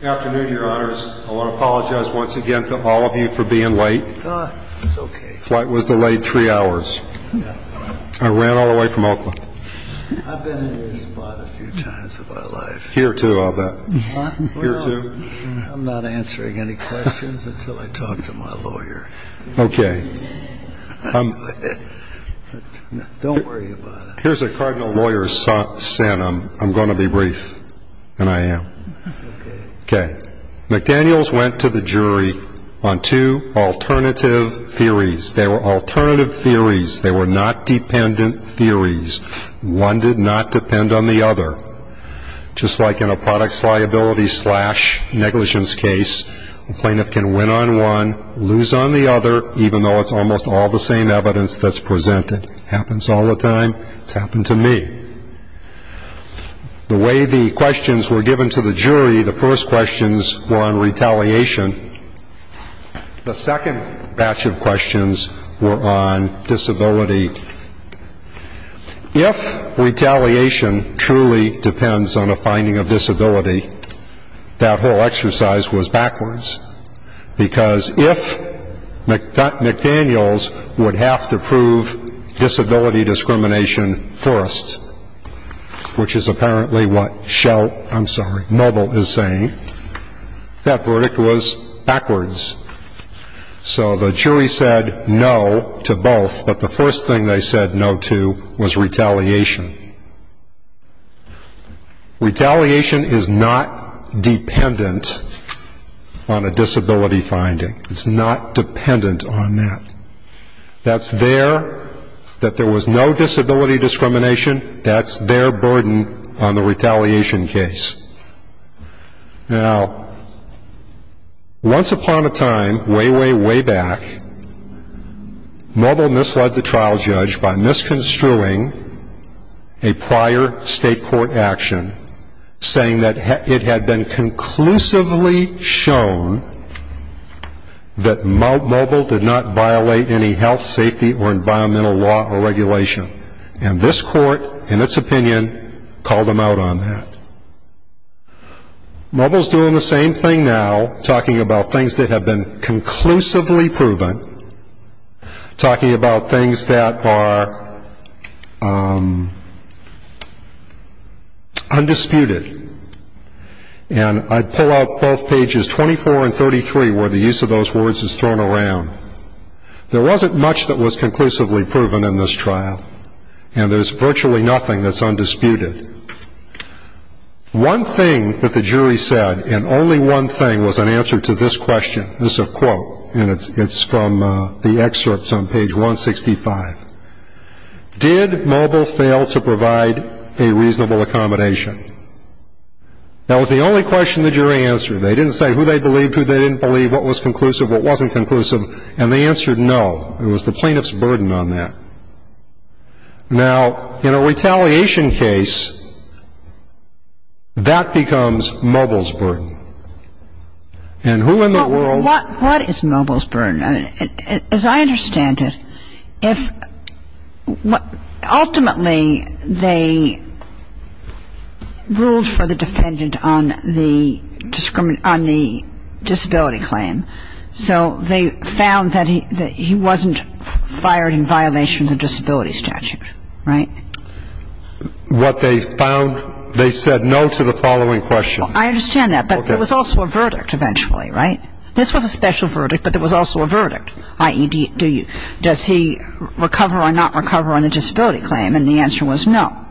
Good afternoon, your honors. I want to apologize once again to all of you for being late. It's okay. The flight was delayed three hours. I ran all the way from Oakland. I've been in your spot a few times in my life. Here, too, I'll bet. Here, too. I'm not answering any questions until I talk to my lawyer. Okay. Don't worry about it. Here's a cardinal lawyer's sin. I'm going to be brief, and I am. Okay. McDaniels went to the jury on two alternative theories. They were alternative theories. They were not dependent theories. One did not depend on the other. Just like in a products liability slash negligence case, a plaintiff can win on one, lose on the other, even though it's almost all the same evidence that's presented. It happens all the time. It's happened to me. The way the questions were given to the jury, the first questions were on retaliation. The second batch of questions were on disability. If retaliation truly depends on a finding of disability, that whole exercise was backwards, because if McDaniels would have to prove disability discrimination first, which is apparently what Schell – I'm sorry, Noble is saying, that verdict was backwards. So the jury said no to both, but the first thing they said no to was retaliation. Retaliation is not dependent on a disability finding. It's not dependent on that. That's their – that there was no disability discrimination, that's their burden on the retaliation case. Now, once upon a time way, way, way back, Noble misled the trial judge by misconstruing a prior state court action, saying that it had been conclusively shown that Noble did not violate any health, safety, or environmental law or regulation. And this court, in its opinion, called him out on that. Noble's doing the same thing now, talking about things that have been conclusively proven, talking about things that are undisputed. And I pull out both pages 24 and 33 where the use of those words is thrown around. There wasn't much that was conclusively proven in this trial, and there's virtually nothing that's undisputed. One thing that the jury said, and only one thing, was an answer to this question. This is a quote, and it's from the excerpts on page 165. Did Noble fail to provide a reasonable accommodation? That was the only question the jury answered. They didn't say who they believed, who they didn't believe, what was conclusive, what wasn't conclusive. And they answered no. It was the plaintiff's burden on that. Now, in a retaliation case, that becomes Noble's burden. And who in the world — What is Noble's burden? As I understand it, ultimately they ruled for the defendant on the disability claim, so they found that he wasn't fired in violation of the disability statute, right? What they found, they said no to the following question. I understand that, but it was also a verdict eventually, right? This was a special verdict, but it was also a verdict, i.e., does he recover or not recover on the disability claim? And the answer was no.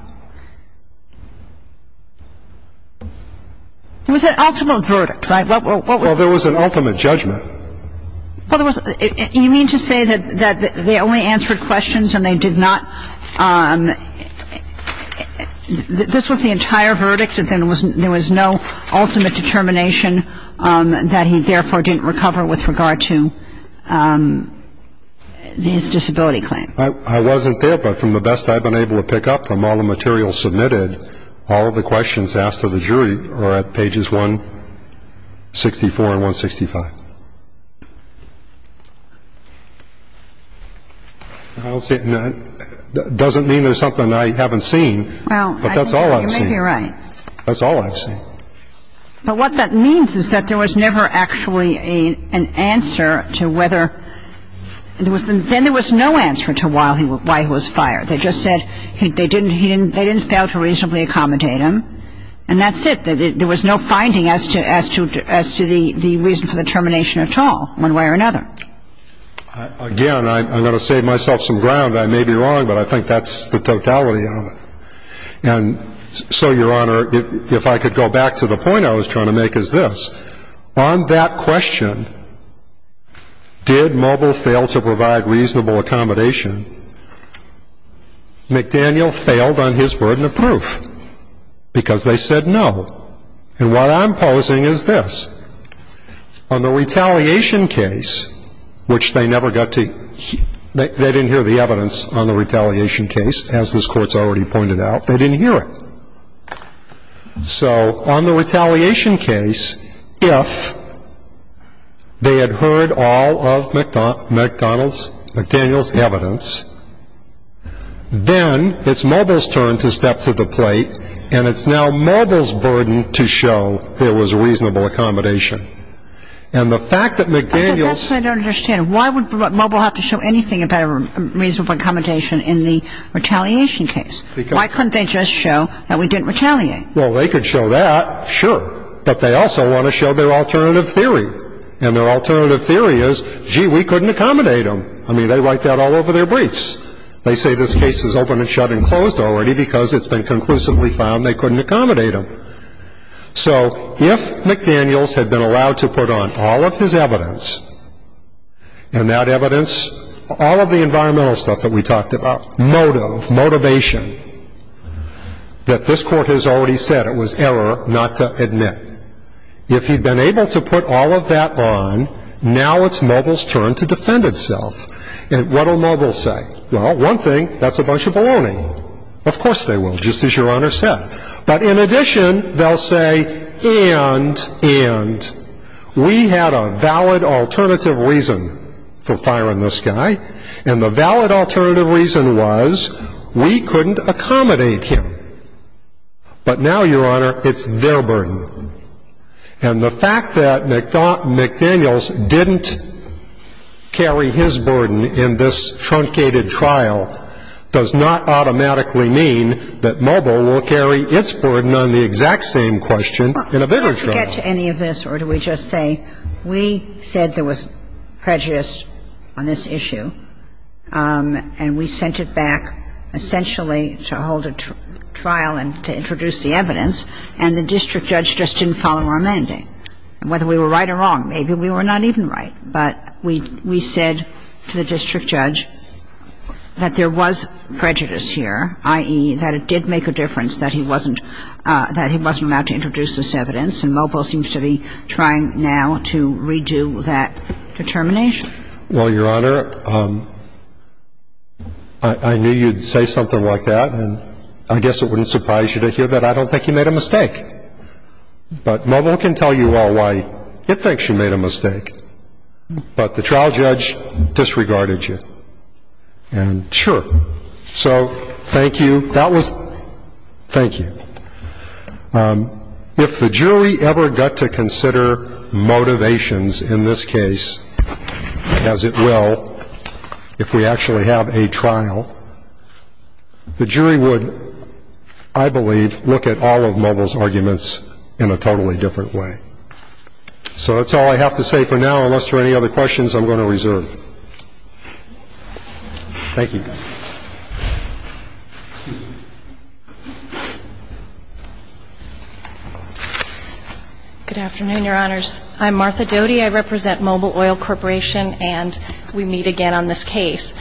It was an ultimate verdict, right? Well, there was an ultimate judgment. You mean to say that they only answered questions and they did not — this was the entire verdict and there was no ultimate determination that he, therefore, didn't recover with regard to his disability claim? I wasn't there, but from the best I've been able to pick up from all the material submitted, all of the questions asked of the jury are at pages 164 and 165. I don't see — doesn't mean there's something I haven't seen, but that's all I've seen. Well, you may be right. That's all I've seen. But what that means is that there was never actually an answer to whether — then there was no answer to why he was fired. They just said they didn't fail to reasonably accommodate him, and that's it. There was no finding as to the reason for the termination at all, one way or another. Again, I'm going to save myself some ground. I may be wrong, but I think that's the totality of it. And so, Your Honor, if I could go back to the point I was trying to make is this. On that question, did Mobile fail to provide reasonable accommodation? McDaniel failed on his burden of proof because they said no. And what I'm posing is this. On the retaliation case, which they never got to — they didn't hear the evidence on the retaliation case, as this Court's already pointed out. They didn't hear it. So on the retaliation case, if they had heard all of McDaniel's evidence, then it's Mobile's turn to step to the plate, and it's now Mobile's burden to show there was reasonable accommodation. And the fact that McDaniel's — But that's what I don't understand. Why would Mobile have to show anything about a reasonable accommodation in the retaliation case? Why couldn't they just show that we didn't retaliate? Well, they could show that, sure. But they also want to show their alternative theory. And their alternative theory is, gee, we couldn't accommodate him. I mean, they write that all over their briefs. They say this case is open and shut and closed already because it's been conclusively found they couldn't accommodate him. So if McDaniel's had been allowed to put on all of his evidence, and that evidence, all of the environmental stuff that we talked about, motive, motivation, that this Court has already said it was error not to admit, if he'd been able to put all of that on, now it's Mobile's turn to defend itself. And what will Mobile say? Well, one thing, that's a bunch of baloney. Of course they will, just as Your Honor said. But in addition, they'll say, and, and, we had a valid alternative reason for firing this guy, and the valid alternative reason was we couldn't accommodate him. But now, Your Honor, it's their burden. And the fact that McDaniel's didn't carry his burden in this truncated trial does not automatically mean that Mobile will carry its burden on the exact same question in a bigger trial. Well, not to get to any of this, or do we just say, we said there was prejudice on this issue, and we sent it back essentially to hold a trial and to introduce the evidence, and the district judge just didn't follow our mandate. And whether we were right or wrong, maybe we were not even right. But we, we said to the district judge that there was prejudice here, i.e., that it did make a difference that he wasn't, that he wasn't allowed to introduce this evidence, and Mobile seems to be trying now to redo that determination. Well, Your Honor, I knew you'd say something like that, and I guess it wouldn't surprise you to hear that I don't think you made a mistake. But Mobile can tell you all why it thinks you made a mistake. But the trial judge disregarded you. And sure. So thank you. That was, thank you. If the jury ever got to consider motivations in this case, as it will if we actually have a trial, the jury would, I believe, look at all of Mobile's arguments in a totally different way. So that's all I have to say for now, unless there are any other questions I'm going to reserve. Thank you. Good afternoon, Your Honors. I'm Martha Doty. I represent Mobile Oil Corporation, and we meet again on this case,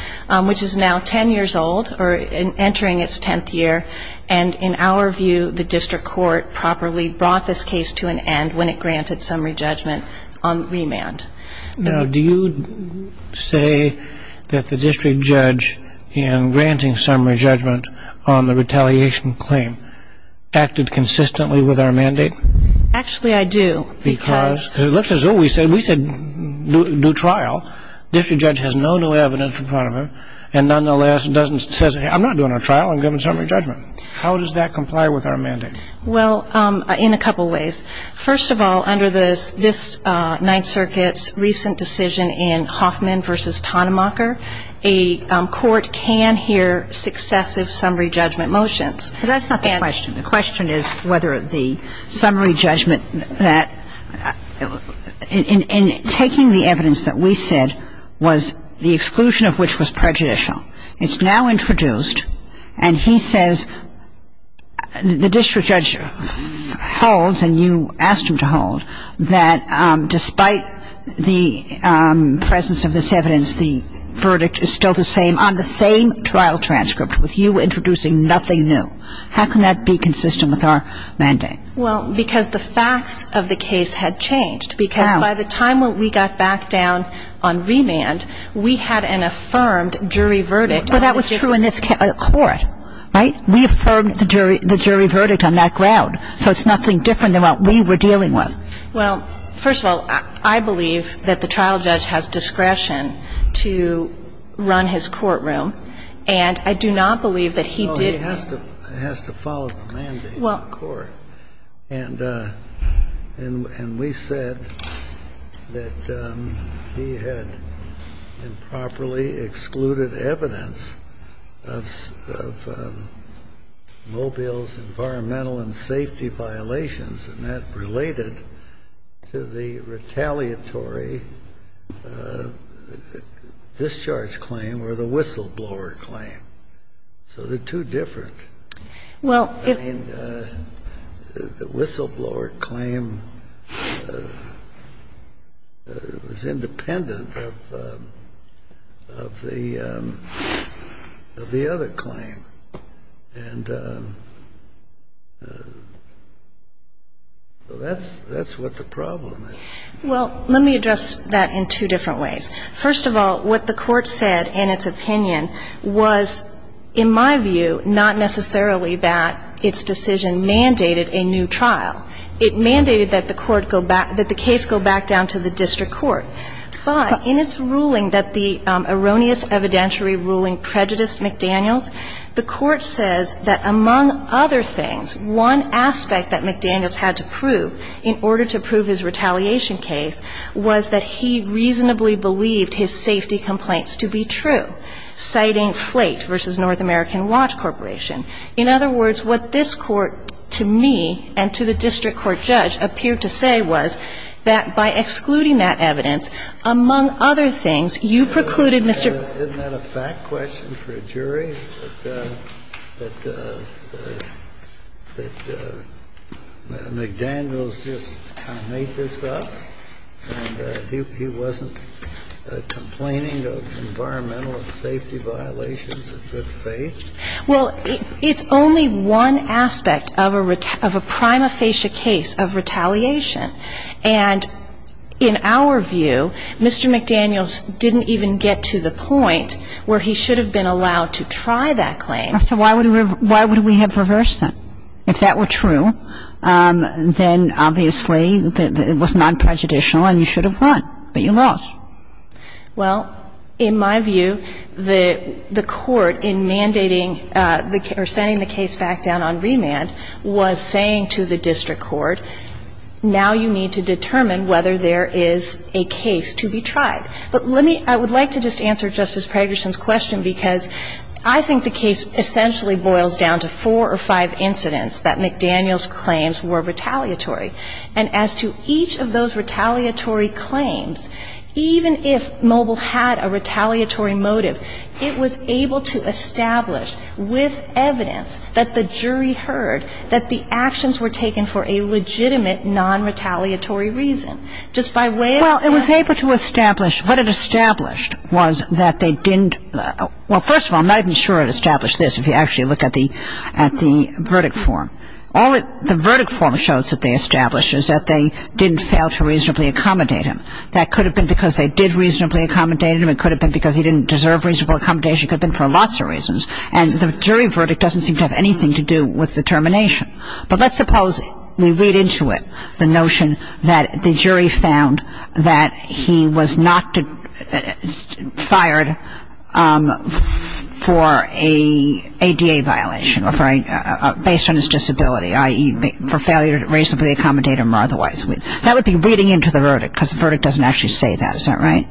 which is now 10 years old, or entering its 10th year. And in our view, the district court properly brought this case to an end when it granted summary judgment on remand. Now, do you say that the district judge, in granting summary judgment on the retaliation claim, acted consistently with our mandate? Actually, I do. Because? Because it looks as though we said, we said do trial. District judge has no new evidence in front of him, and nonetheless doesn't say, I'm not doing a trial. I'm giving summary judgment. How does that comply with our mandate? Well, in a couple of ways. First of all, under this Ninth Circuit's recent decision in Hoffman v. Tonnemacher, a court can hear successive summary judgment motions. But that's not the question. The question is whether the summary judgment that, in taking the evidence that we said was the exclusion of which was prejudicial, it's now introduced, and he says, the district judge holds, and you asked him to hold, that despite the presence of this evidence, the verdict is still the same on the same trial transcript, with you introducing nothing new. How can that be consistent with our mandate? Well, because the facts of the case had changed. Because by the time when we got back down on remand, we had an affirmed jury verdict. But that was true in this court. Right? We affirmed the jury verdict on that ground. So it's nothing different than what we were dealing with. Well, first of all, I believe that the trial judge has discretion to run his courtroom, and I do not believe that he did. Well, he has to follow the mandate of the court. And we said that he had improperly excluded evidence of Mobile's environmental and safety violations, and that related to the retaliatory discharge claim or the whistleblower claim. So they're two different. Well, if the whistleblower claim was independent of the other claim. And so that's what the problem is. Well, let me address that in two different ways. First of all, what the Court said in its opinion was, in my view, not necessarily that its decision mandated a new trial. It mandated that the court go back – that the case go back down to the district court. But in its ruling that the erroneous evidentiary ruling prejudiced McDaniels, the Court says that, among other things, one aspect that McDaniels had to prove in order to prove his retaliation case was that he reasonably believed his safety complaints to be true, citing Flate v. North American Watch Corporation. In other words, what this Court, to me and to the district court judge, appeared to say was that by excluding that evidence, among other things, you precluded, Mr. ---- Isn't that a fact question for a jury, that McDaniels just kind of made this up and he wasn't complaining of environmental and safety violations of good faith? Well, it's only one aspect of a prima facie case of retaliation. And in our view, Mr. McDaniels didn't even get to the point where he should have been allowed to try that claim. So why would we have reversed that? If that were true, then obviously it was non-prejudicial and you should have won, but you lost. Well, in my view, the court in mandating or sending the case back down on remand was saying to the district court, now you need to determine whether there is a case to be tried. But let me ---- I would like to just answer Justice Pegerson's question, because I think the case essentially boils down to four or five incidents that McDaniels claims were retaliatory. And as to each of those retaliatory claims, even if Mobil had a retaliatory motive, it was able to establish with evidence that the jury heard that the actions were taken for a legitimate non-retaliatory reason. Just by way of saying ---- Well, it was able to establish. What it established was that they didn't ---- well, first of all, I'm not even sure it established this, if you actually look at the verdict form. The verdict form shows that they established is that they didn't fail to reasonably accommodate him. That could have been because they did reasonably accommodate him. It could have been because he didn't deserve reasonable accommodation. It could have been for lots of reasons. And the jury verdict doesn't seem to have anything to do with the termination. But let's suppose we read into it the notion that the jury found that he was not fired for a ADA violation, or for a ---- based on his disability, i.e., for failure to reasonably accommodate him or otherwise. That would be reading into the verdict, because the verdict doesn't actually say that. Is that right?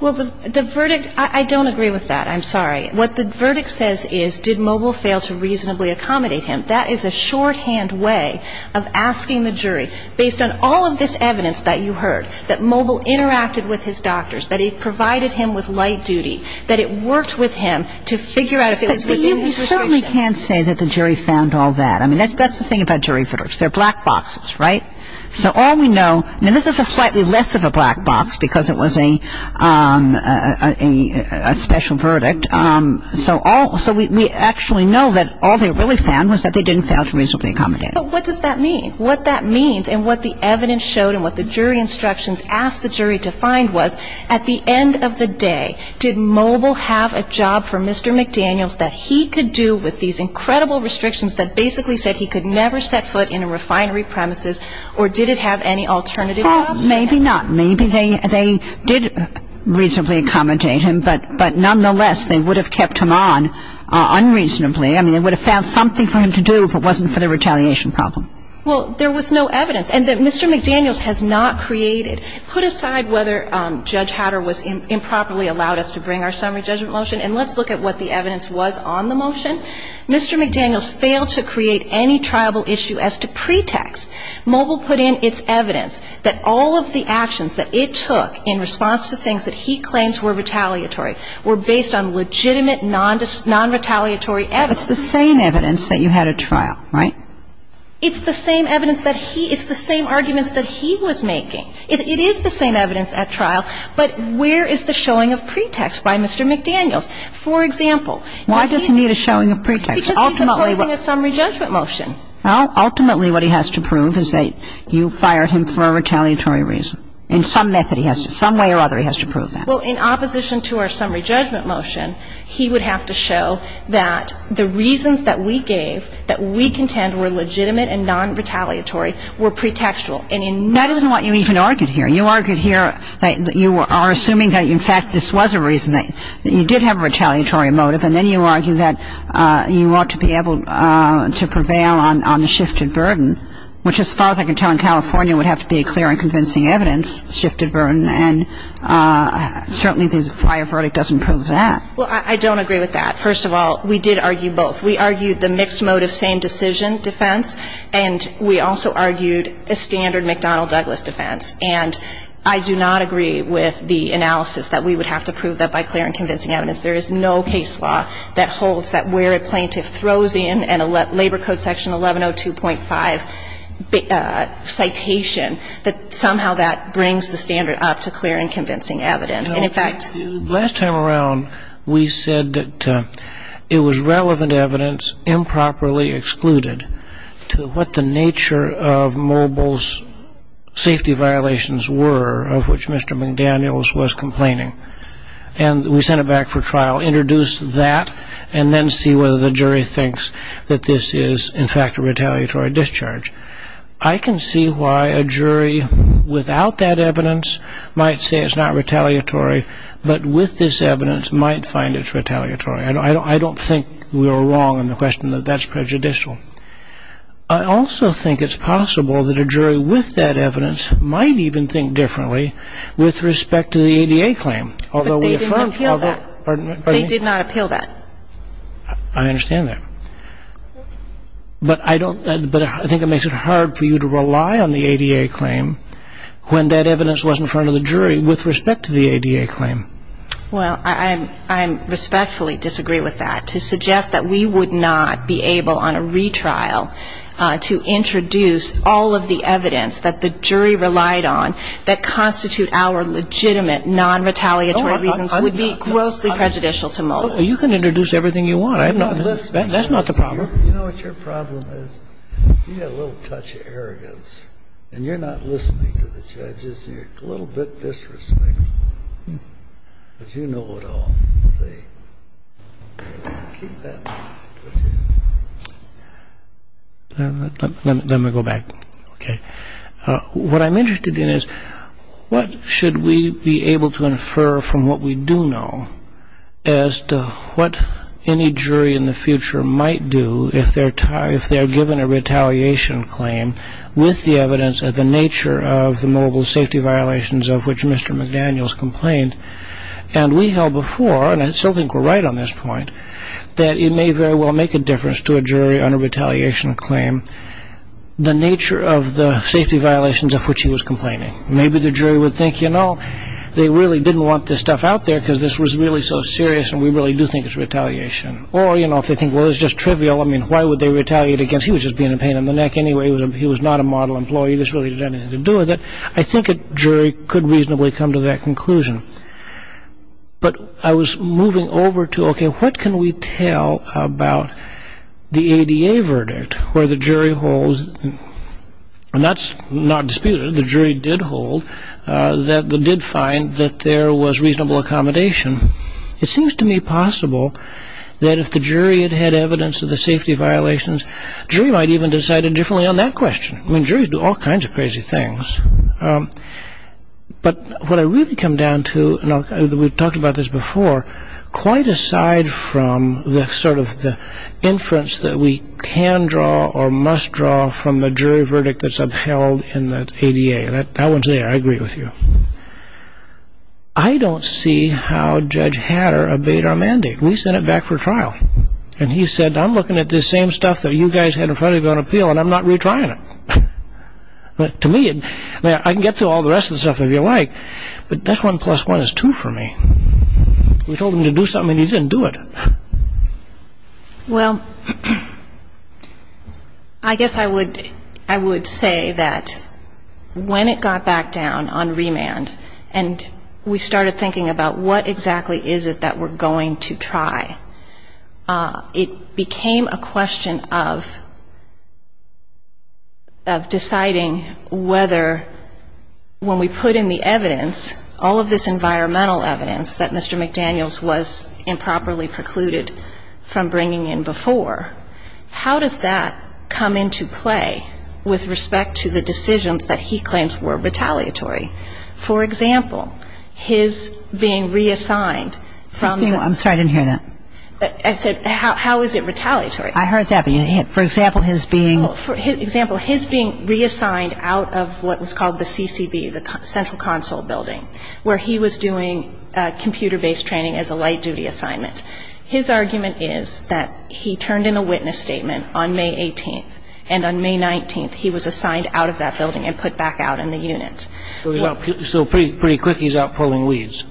Well, the verdict ---- I don't agree with that. I'm sorry. What the verdict says is, did Moble fail to reasonably accommodate him? That is a shorthand way of asking the jury, based on all of this evidence that you heard, that Moble interacted with his doctors, that he provided him with light duty, that it worked with him to figure out if it was within his restrictions. But, you know, we certainly can't say that the jury found all that. I mean, that's the thing about jury verdicts. They're black boxes, right? So all we know ---- now, this is a slightly less of a black box, because it was a special verdict. So we actually know that all they really found was that they didn't fail to reasonably accommodate him. But what does that mean? What that means, and what the evidence showed and what the jury instructions asked the jury to find was, at the end of the day, did Moble have a job for Mr. McDaniels that he could do with these incredible restrictions that basically said he could never set foot in a refinery premises, or did it have any alternative routes for him? Maybe not. Maybe they did reasonably accommodate him, but nonetheless, they would have kept him on unreasonably. I mean, they would have found something for him to do if it wasn't for the retaliation problem. Well, there was no evidence. And that Mr. McDaniels has not created ---- put aside whether Judge Hatter was improperly allowed us to bring our summary judgment motion, and let's look at what the evidence was on the motion. Mr. McDaniels failed to create any triable issue as to pretext. Moble put in its evidence that all of the actions that it took in response to things that he claims were retaliatory were based on legitimate, non-retaliatory evidence. But it's the same evidence that you had at trial, right? It's the same evidence that he ---- it's the same arguments that he was making. It is the same evidence at trial, but where is the showing of pretext by Mr. McDaniels? For example, if he ---- Why does he need a showing of pretext? Ultimately, what ---- Because he's imposing a summary judgment motion. Ultimately, what he has to prove is that you fired him for a retaliatory reason. In some method he has to ---- some way or other he has to prove that. Well, in opposition to our summary judgment motion, he would have to show that the reasons that we gave that we contend were legitimate and non-retaliatory were pretextual. And in ---- That isn't what you even argued here. You argued here that you are assuming that, in fact, this was a reason that you did have a retaliatory motive. And then you argue that you ought to be able to prevail on the shifted burden, which as far as I can tell in California would have to be a clear and convincing evidence shifted burden. And certainly the prior verdict doesn't prove that. Well, I don't agree with that. First of all, we did argue both. We argued the mixed motive same decision defense, and we also argued a standard McDonnell-Douglas defense. And I do not agree with the analysis that we would have to prove that by clear and convincing evidence. There is no case law that holds that where a plaintiff throws in a Labor Code section 1102.5 citation, that somehow that brings the standard up to clear and convincing evidence. And in fact ---- Last time around we said that it was relevant evidence improperly excluded to what the nature of Moble's safety violations were of which Mr. McDaniels was complaining. And we sent it back for trial, introduced that, and then see whether the jury thinks that this is in fact a retaliatory discharge. I can see why a jury without that evidence might say it's not retaliatory, but with this evidence might find it's retaliatory. I don't think we were wrong in the question that that's prejudicial. I also think it's possible that a jury with that evidence might even think differently with respect to the ADA claim. Although we affirmed ---- But they did not appeal that. Pardon me? They did not appeal that. I understand that. But I don't ---- but I think it makes it hard for you to rely on the ADA claim when that evidence was in front of the jury with respect to the ADA claim. Well, I respectfully disagree with that. To suggest that we would not be able on a retrial to introduce all of the evidence that the jury relied on that constitute our legitimate non-retaliatory reasons would be grossly prejudicial to most. Well, you can introduce everything you want. I'm not listening. That's not the problem. You know what your problem is? You have a little touch of arrogance, and you're not listening to the judges. You're a little bit disrespectful. But you know it all. So keep that in mind. Let me go back. Okay. What I'm interested in is what should we be able to infer from what we do know as to what any jury in the future might do if they're given a retaliation claim with the evidence of the nature of the mobile safety violations of which Mr. McDaniels complained. And we held before, and I still think we're right on this point, that it may very well make a difference to a jury on a retaliation claim the nature of the safety violations of which he was complaining. Maybe the jury would think, you know, they really didn't want this stuff out there because this was really so serious, and we really do think it's retaliation. Or, you know, if they think, well, it's just trivial. I mean, why would they retaliate against he was just being a pain in the neck anyway. He was not a model employee. This really didn't have anything to do with it. I think a jury could reasonably come to that conclusion. But I was moving over to, okay, what can we tell about the ADA verdict where the jury holds, and that's not disputed, the jury did hold, that they did find that there was reasonable accommodation. It seems to me possible that if the jury had had evidence of the safety violations, a jury might even decide indifferently on that question. I mean, juries do all kinds of crazy things. But what I really come down to, and we've talked about this before, quite aside from the sort of inference that we can draw or must draw from the jury verdict that's upheld in the ADA. That one's there. I agree with you. I don't see how Judge Hatter obeyed our mandate. We sent it back for trial. And he said, I'm looking at this same stuff that you guys had in front of you on appeal, and I'm not retrying it. But to me, I can get to all the rest of the stuff if you like, but this one plus one is two for me. We told him to do something and he didn't do it. Well, I guess I would say that when it got back down on remand and we started thinking about what exactly is it that we're going to try, it became a question of deciding whether when we put in the evidence, all of this environmental evidence that Mr. McDaniels was improperly precluded from bringing in before, how does that come into play with respect to the decisions that he claims were retaliatory? For example, his being reassigned from the... I'm sorry, I didn't hear that. I said, how is it retaliatory? I heard that, but for example, his being... For example, his being reassigned out of what was called the CCB, the Central Console Building, where he was doing computer-based training as a light-duty assignment. His argument is that he turned in a witness statement on May 18th and on May 19th he was assigned out of that building and put back out in the unit. So pretty quick he's out pulling weeds.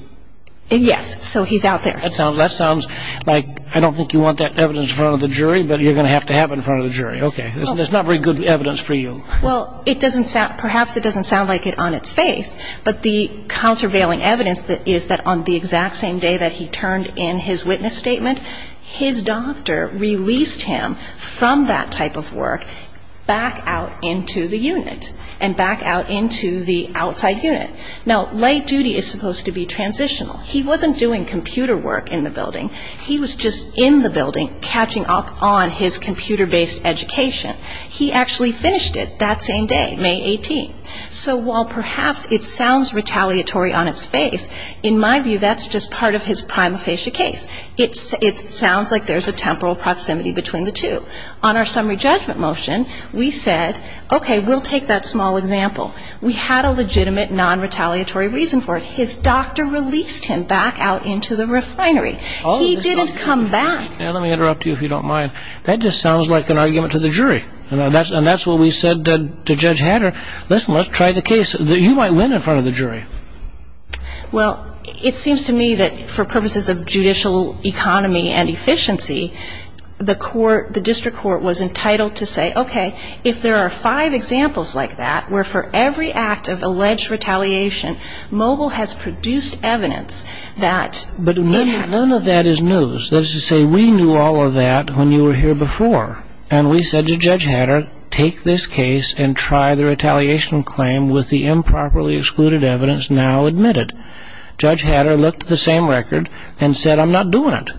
Yes, so he's out there. That sounds like, I don't think you want that evidence in front of the jury, but you're going to have to have it in front of the jury. Okay, that's not very good evidence for you. Well, perhaps it doesn't sound like it on its face, but the countervailing evidence is that on the exact same day that he turned in his witness statement, his doctor released him from that type of work back out into the unit and back out into the outside unit. Now, light duty is supposed to be transitional. He wasn't doing computer work in the building. He was just in the building catching up on his computer-based education. He actually finished it that same day, May 18th. So while perhaps it sounds retaliatory on its face, in my view that's just part of his prima facie case. It sounds like there's a temporal proximity between the two. On our summary judgment motion, we said, okay, we'll take that small example. We had a legitimate non-retaliatory reason for it. His doctor released him back out into the refinery. He didn't come back. Let me interrupt you if you don't mind. That just sounds like an argument to the jury, and that's what we said to Judge Hanner. Listen, let's try the case. You might win in front of the jury. Well, it seems to me that for purposes of judicial economy and efficiency, the district court was entitled to say, okay, if there are five examples like that where for every act of alleged retaliation, Mobile has produced evidence that it had. But none of that is news. That is to say, we knew all of that when you were here before, and we said to Judge Hanner, take this case and try the retaliation claim with the improperly excluded evidence now admitted. Judge Hanner looked at the same record and said, I'm not doing it.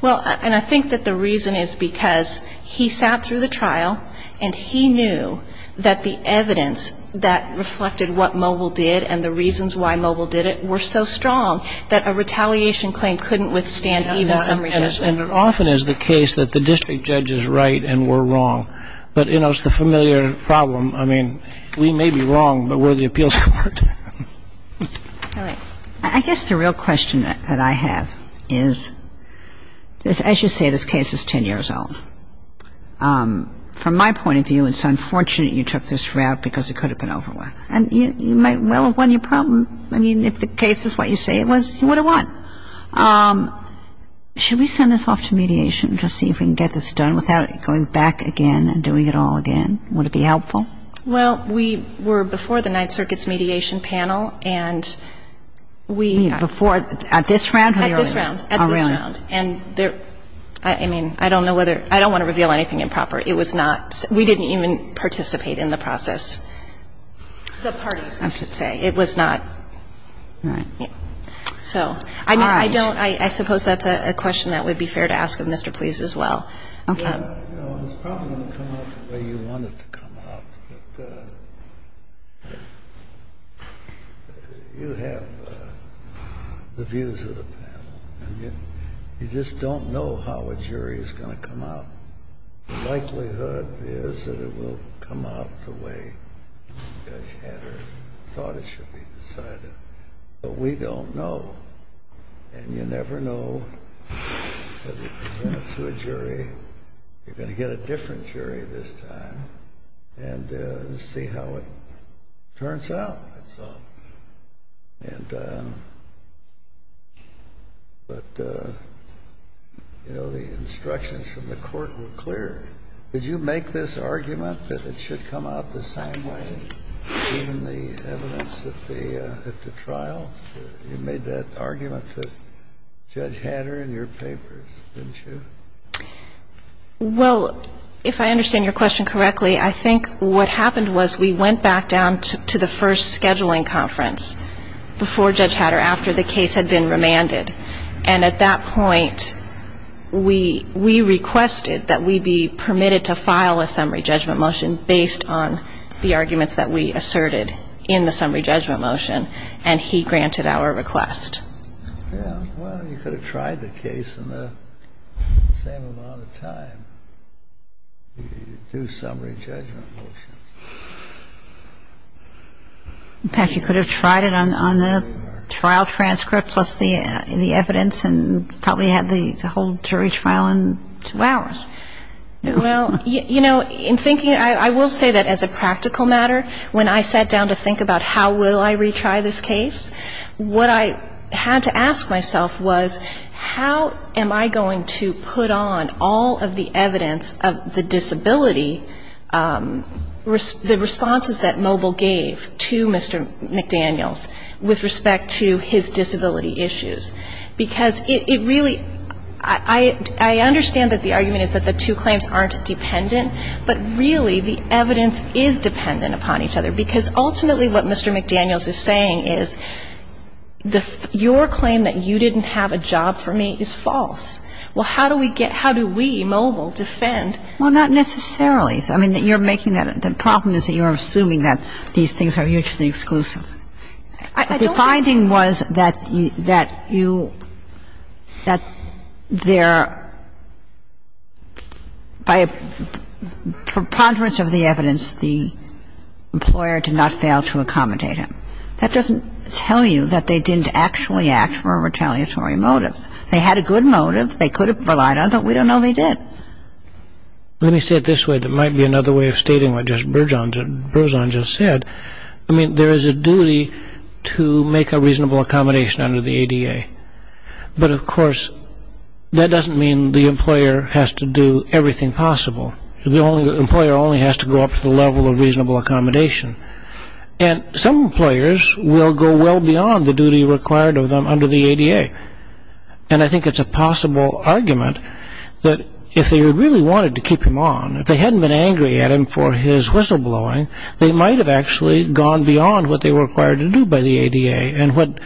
Well, and I think that the reason is because he sat through the trial and he knew that the evidence that reflected what Mobile did and the reasons why Mobile did it were so strong that a retaliation claim couldn't withstand even summary judgment. And I think that's the reason why the district court was entitled to say, we know all of that when you were here before. And it often is the case that the district judge is right and we're wrong. But, you know, it's the familiar problem. I mean, we may be wrong, but we're the appeals court. All right. I guess the real question that I have is, as you say, this case is 10 years old. From my point of view, it's unfortunate you took this route because it could have been over with. And you might well have won your problem. I mean, if the case is what you say it was, you would have won. Should we send this off to mediation to see if we can get this done without going back again and doing it all again? Would it be helpful? Well, we were before the Ninth Circuit's mediation panel, and we – At this round? At this round. At this round. Oh, really? And there – I mean, I don't know whether – I don't want to reveal anything improper. It was not – we didn't even participate in the process. The parties, I should say. It was not – All right. So I don't – I suppose that's a question that would be fair to ask of Mr. Pleas as well. Okay. You know, it's probably going to come out the way you want it to come out. But you have the views of the panel. And you just don't know how a jury is going to come out. The likelihood is that it will come out the way Judge Hatters thought it should be decided. But we don't know. And you never know that if you present it to a jury, you're going to get a different jury this time. And we'll see how it turns out, that's all. And – but, you know, the instructions from the court were clear. Did you make this argument that it should come out the same way, given the evidence at the – at the trial? You made that argument to Judge Hatter in your papers, didn't you? Well, if I understand your question correctly, I think what happened was we went back down to the first scheduling conference before Judge Hatter, after the case had been remanded. And at that point, we – we requested that we be permitted to file a summary judgment motion based on the arguments that we asserted in the summary judgment motion. And he granted our request. Well, you could have tried the case in the same amount of time, the due summary judgment motion. In fact, you could have tried it on the trial transcript plus the evidence and probably had the whole jury trial in two hours. Well, you know, in thinking – I will say that as a practical matter, when I sat down to think about how will I retry this case, what I had to ask myself was how am I going to put on all of the evidence of the disability, the responses that Moble gave to Mr. McDaniels with respect to his disability issues, because it really – I understand that the argument is that the two claims aren't dependent, but really the evidence is dependent upon each other, because ultimately what Mr. McDaniels is saying is your claim that you didn't have a job for me is false. Well, how do we get – how do we, Moble, defend? Well, not necessarily. I mean, you're making that – the problem is that you're assuming that these things are mutually exclusive. I don't think – The finding was that you – that there – by preponderance of the evidence, the employer did not fail to accommodate him. That doesn't tell you that they didn't actually act for a retaliatory motive. They had a good motive. They could have relied on it, but we don't know they did. Let me say it this way. That might be another way of stating what just Berzon just said. I mean, there is a duty to make a reasonable accommodation under the ADA. But, of course, that doesn't mean the employer has to do everything possible. The employer only has to go up to the level of reasonable accommodation. And some employers will go well beyond the duty required of them under the ADA. And I think it's a possible argument that if they really wanted to keep him on, if they hadn't been angry at him for his whistleblowing, they might have actually gone beyond what they were required to do by the ADA. And what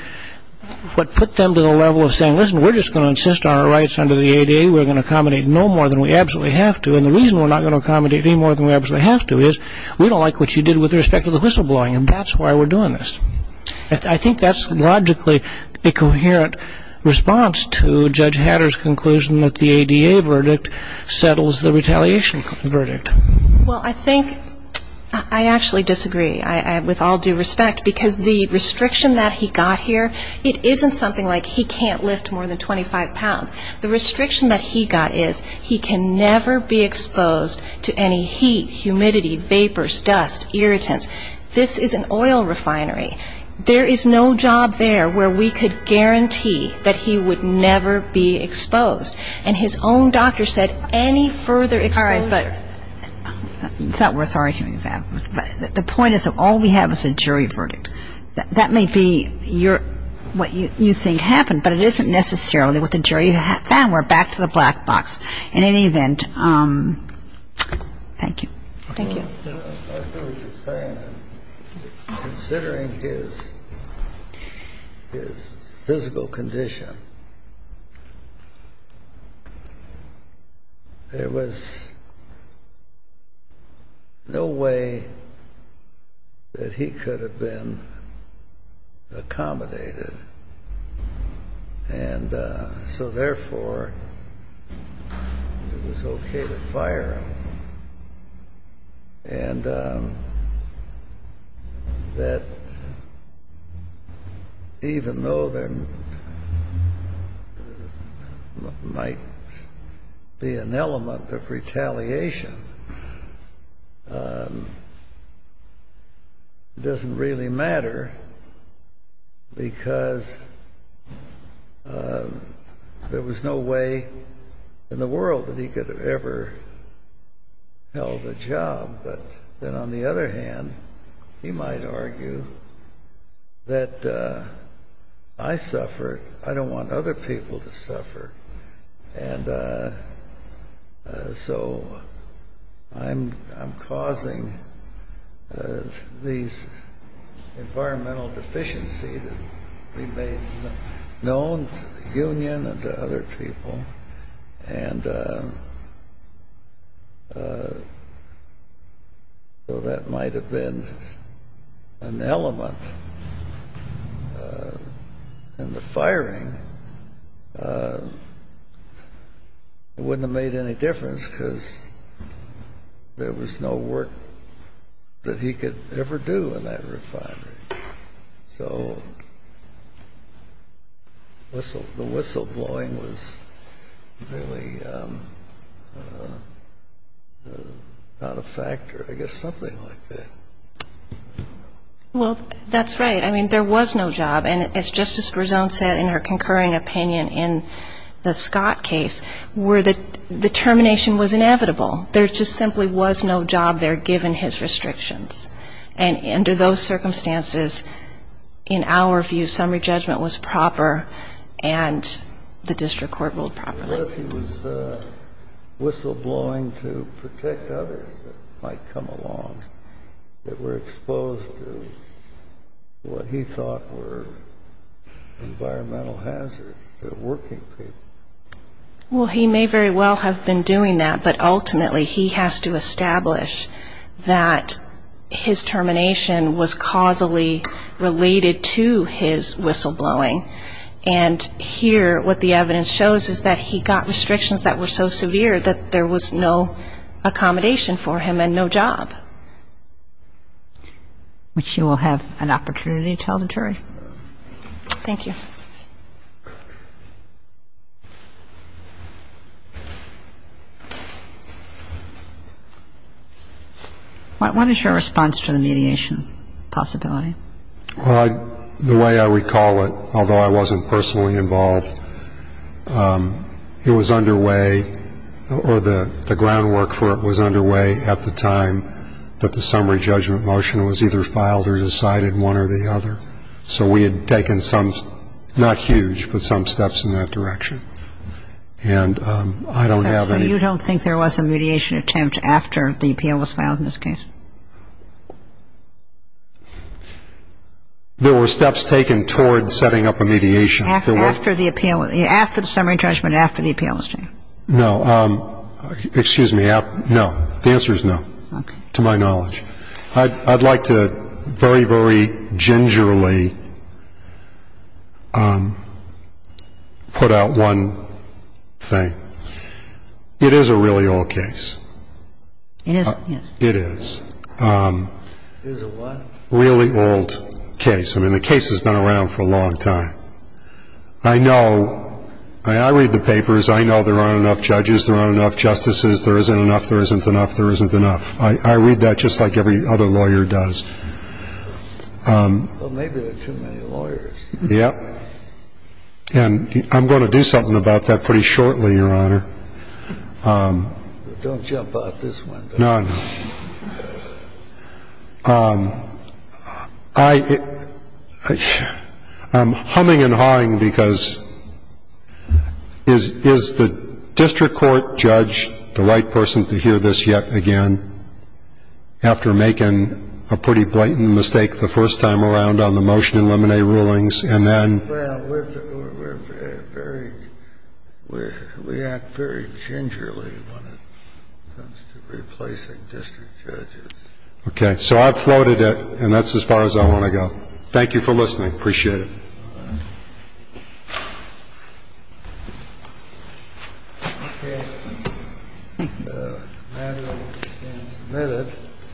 put them to the level of saying, listen, we're just going to insist on our rights under the ADA. We're going to accommodate no more than we absolutely have to. And the reason we're not going to accommodate any more than we absolutely have to is we don't like what you did with respect to the whistleblowing, and that's why we're doing this. I think that's logically a coherent response to Judge Hatter's conclusion that the ADA verdict settles the retaliation verdict. Well, I think I actually disagree with all due respect, because the restriction that he got here, it isn't something like he can't lift more than 25 pounds. The restriction that he got is he can never be exposed to any heat, humidity, vapors, dust, irritants. This is an oil refinery. There is no job there where we could guarantee that he would never be exposed. And his own doctor said any further exposure. All right, but it's not worth arguing about. The point is that all we have is a jury verdict. That may be what you think happened, but it isn't necessarily what the jury found. We're back to the black box. In any event, thank you. Thank you. I hear what you're saying. Considering his physical condition, there was no way that he could have been accommodated. And so, therefore, it was okay to fire him. And that even though there might be an element of retaliation, it doesn't really matter because there was no way in the world that he could have ever held a job. But then on the other hand, he might argue that I suffered. I don't want other people to suffer. And so I'm causing these environmental deficiencies to be made known to the union and to other people. And so that might have been an element in the firing. It wouldn't have made any difference because there was no work that he could ever do in that refinery. So the whistleblowing was really not a factor. I guess something like that. Well, that's right. I mean, there was no job. And as Justice Brezon said in her concurring opinion in the Scott case, the termination was inevitable. There just simply was no job there given his restrictions. And under those circumstances, in our view, summary judgment was proper and the district court ruled properly. What if he was whistleblowing to protect others that might come along that were exposed to what he thought were environmental hazards to working people? Well, he may very well have been doing that. But ultimately he has to establish that his termination was causally related to his whistleblowing. And here what the evidence shows is that he got restrictions that were so severe that there was no accommodation for him and no job. Which you will have an opportunity to tell the jury. Thank you. What is your response to the mediation possibility? The way I recall it, although I wasn't personally involved, it was underway or the groundwork for it was underway at the time that the summary judgment motion was either filed or a mediation, and so we had to go back to the jury and go back to the jury and have the judges either decide one or the other. So we had taken some, not huge, but some steps in that direction. And I don't have any ‑‑ So you don't think there was a mediation attempt after the appeal was filed in this case? There were steps taken toward setting up a mediation. After the appeal. After the summary judgment, after the appeal was done. No. Excuse me. No. The answer is no. Okay. To my knowledge. I'd like to very, very gingerly put out one thing. It is a really old case. It is? Yes. It is. It is a what? Really old case. I mean, the case has been around for a long time. I know. I read the papers. I know there aren't enough judges, there aren't enough justices. There isn't enough, there isn't enough, there isn't enough. I read that just like every other lawyer does. Well, maybe there are too many lawyers. Yes. And I'm going to do something about that pretty shortly, Your Honor. Don't jump out this window. No, no. I'm humming and hawing because is the district court judge the right person to hear this yet again after making a pretty blatant mistake the first time around on the motion in lemonade rulings and then? Well, we're very, we act very gingerly when it comes to replacing district judges. Okay. So I've floated it and that's as far as I want to go. Thank you for listening. Appreciate it. All right. Okay. The manual has been submitted.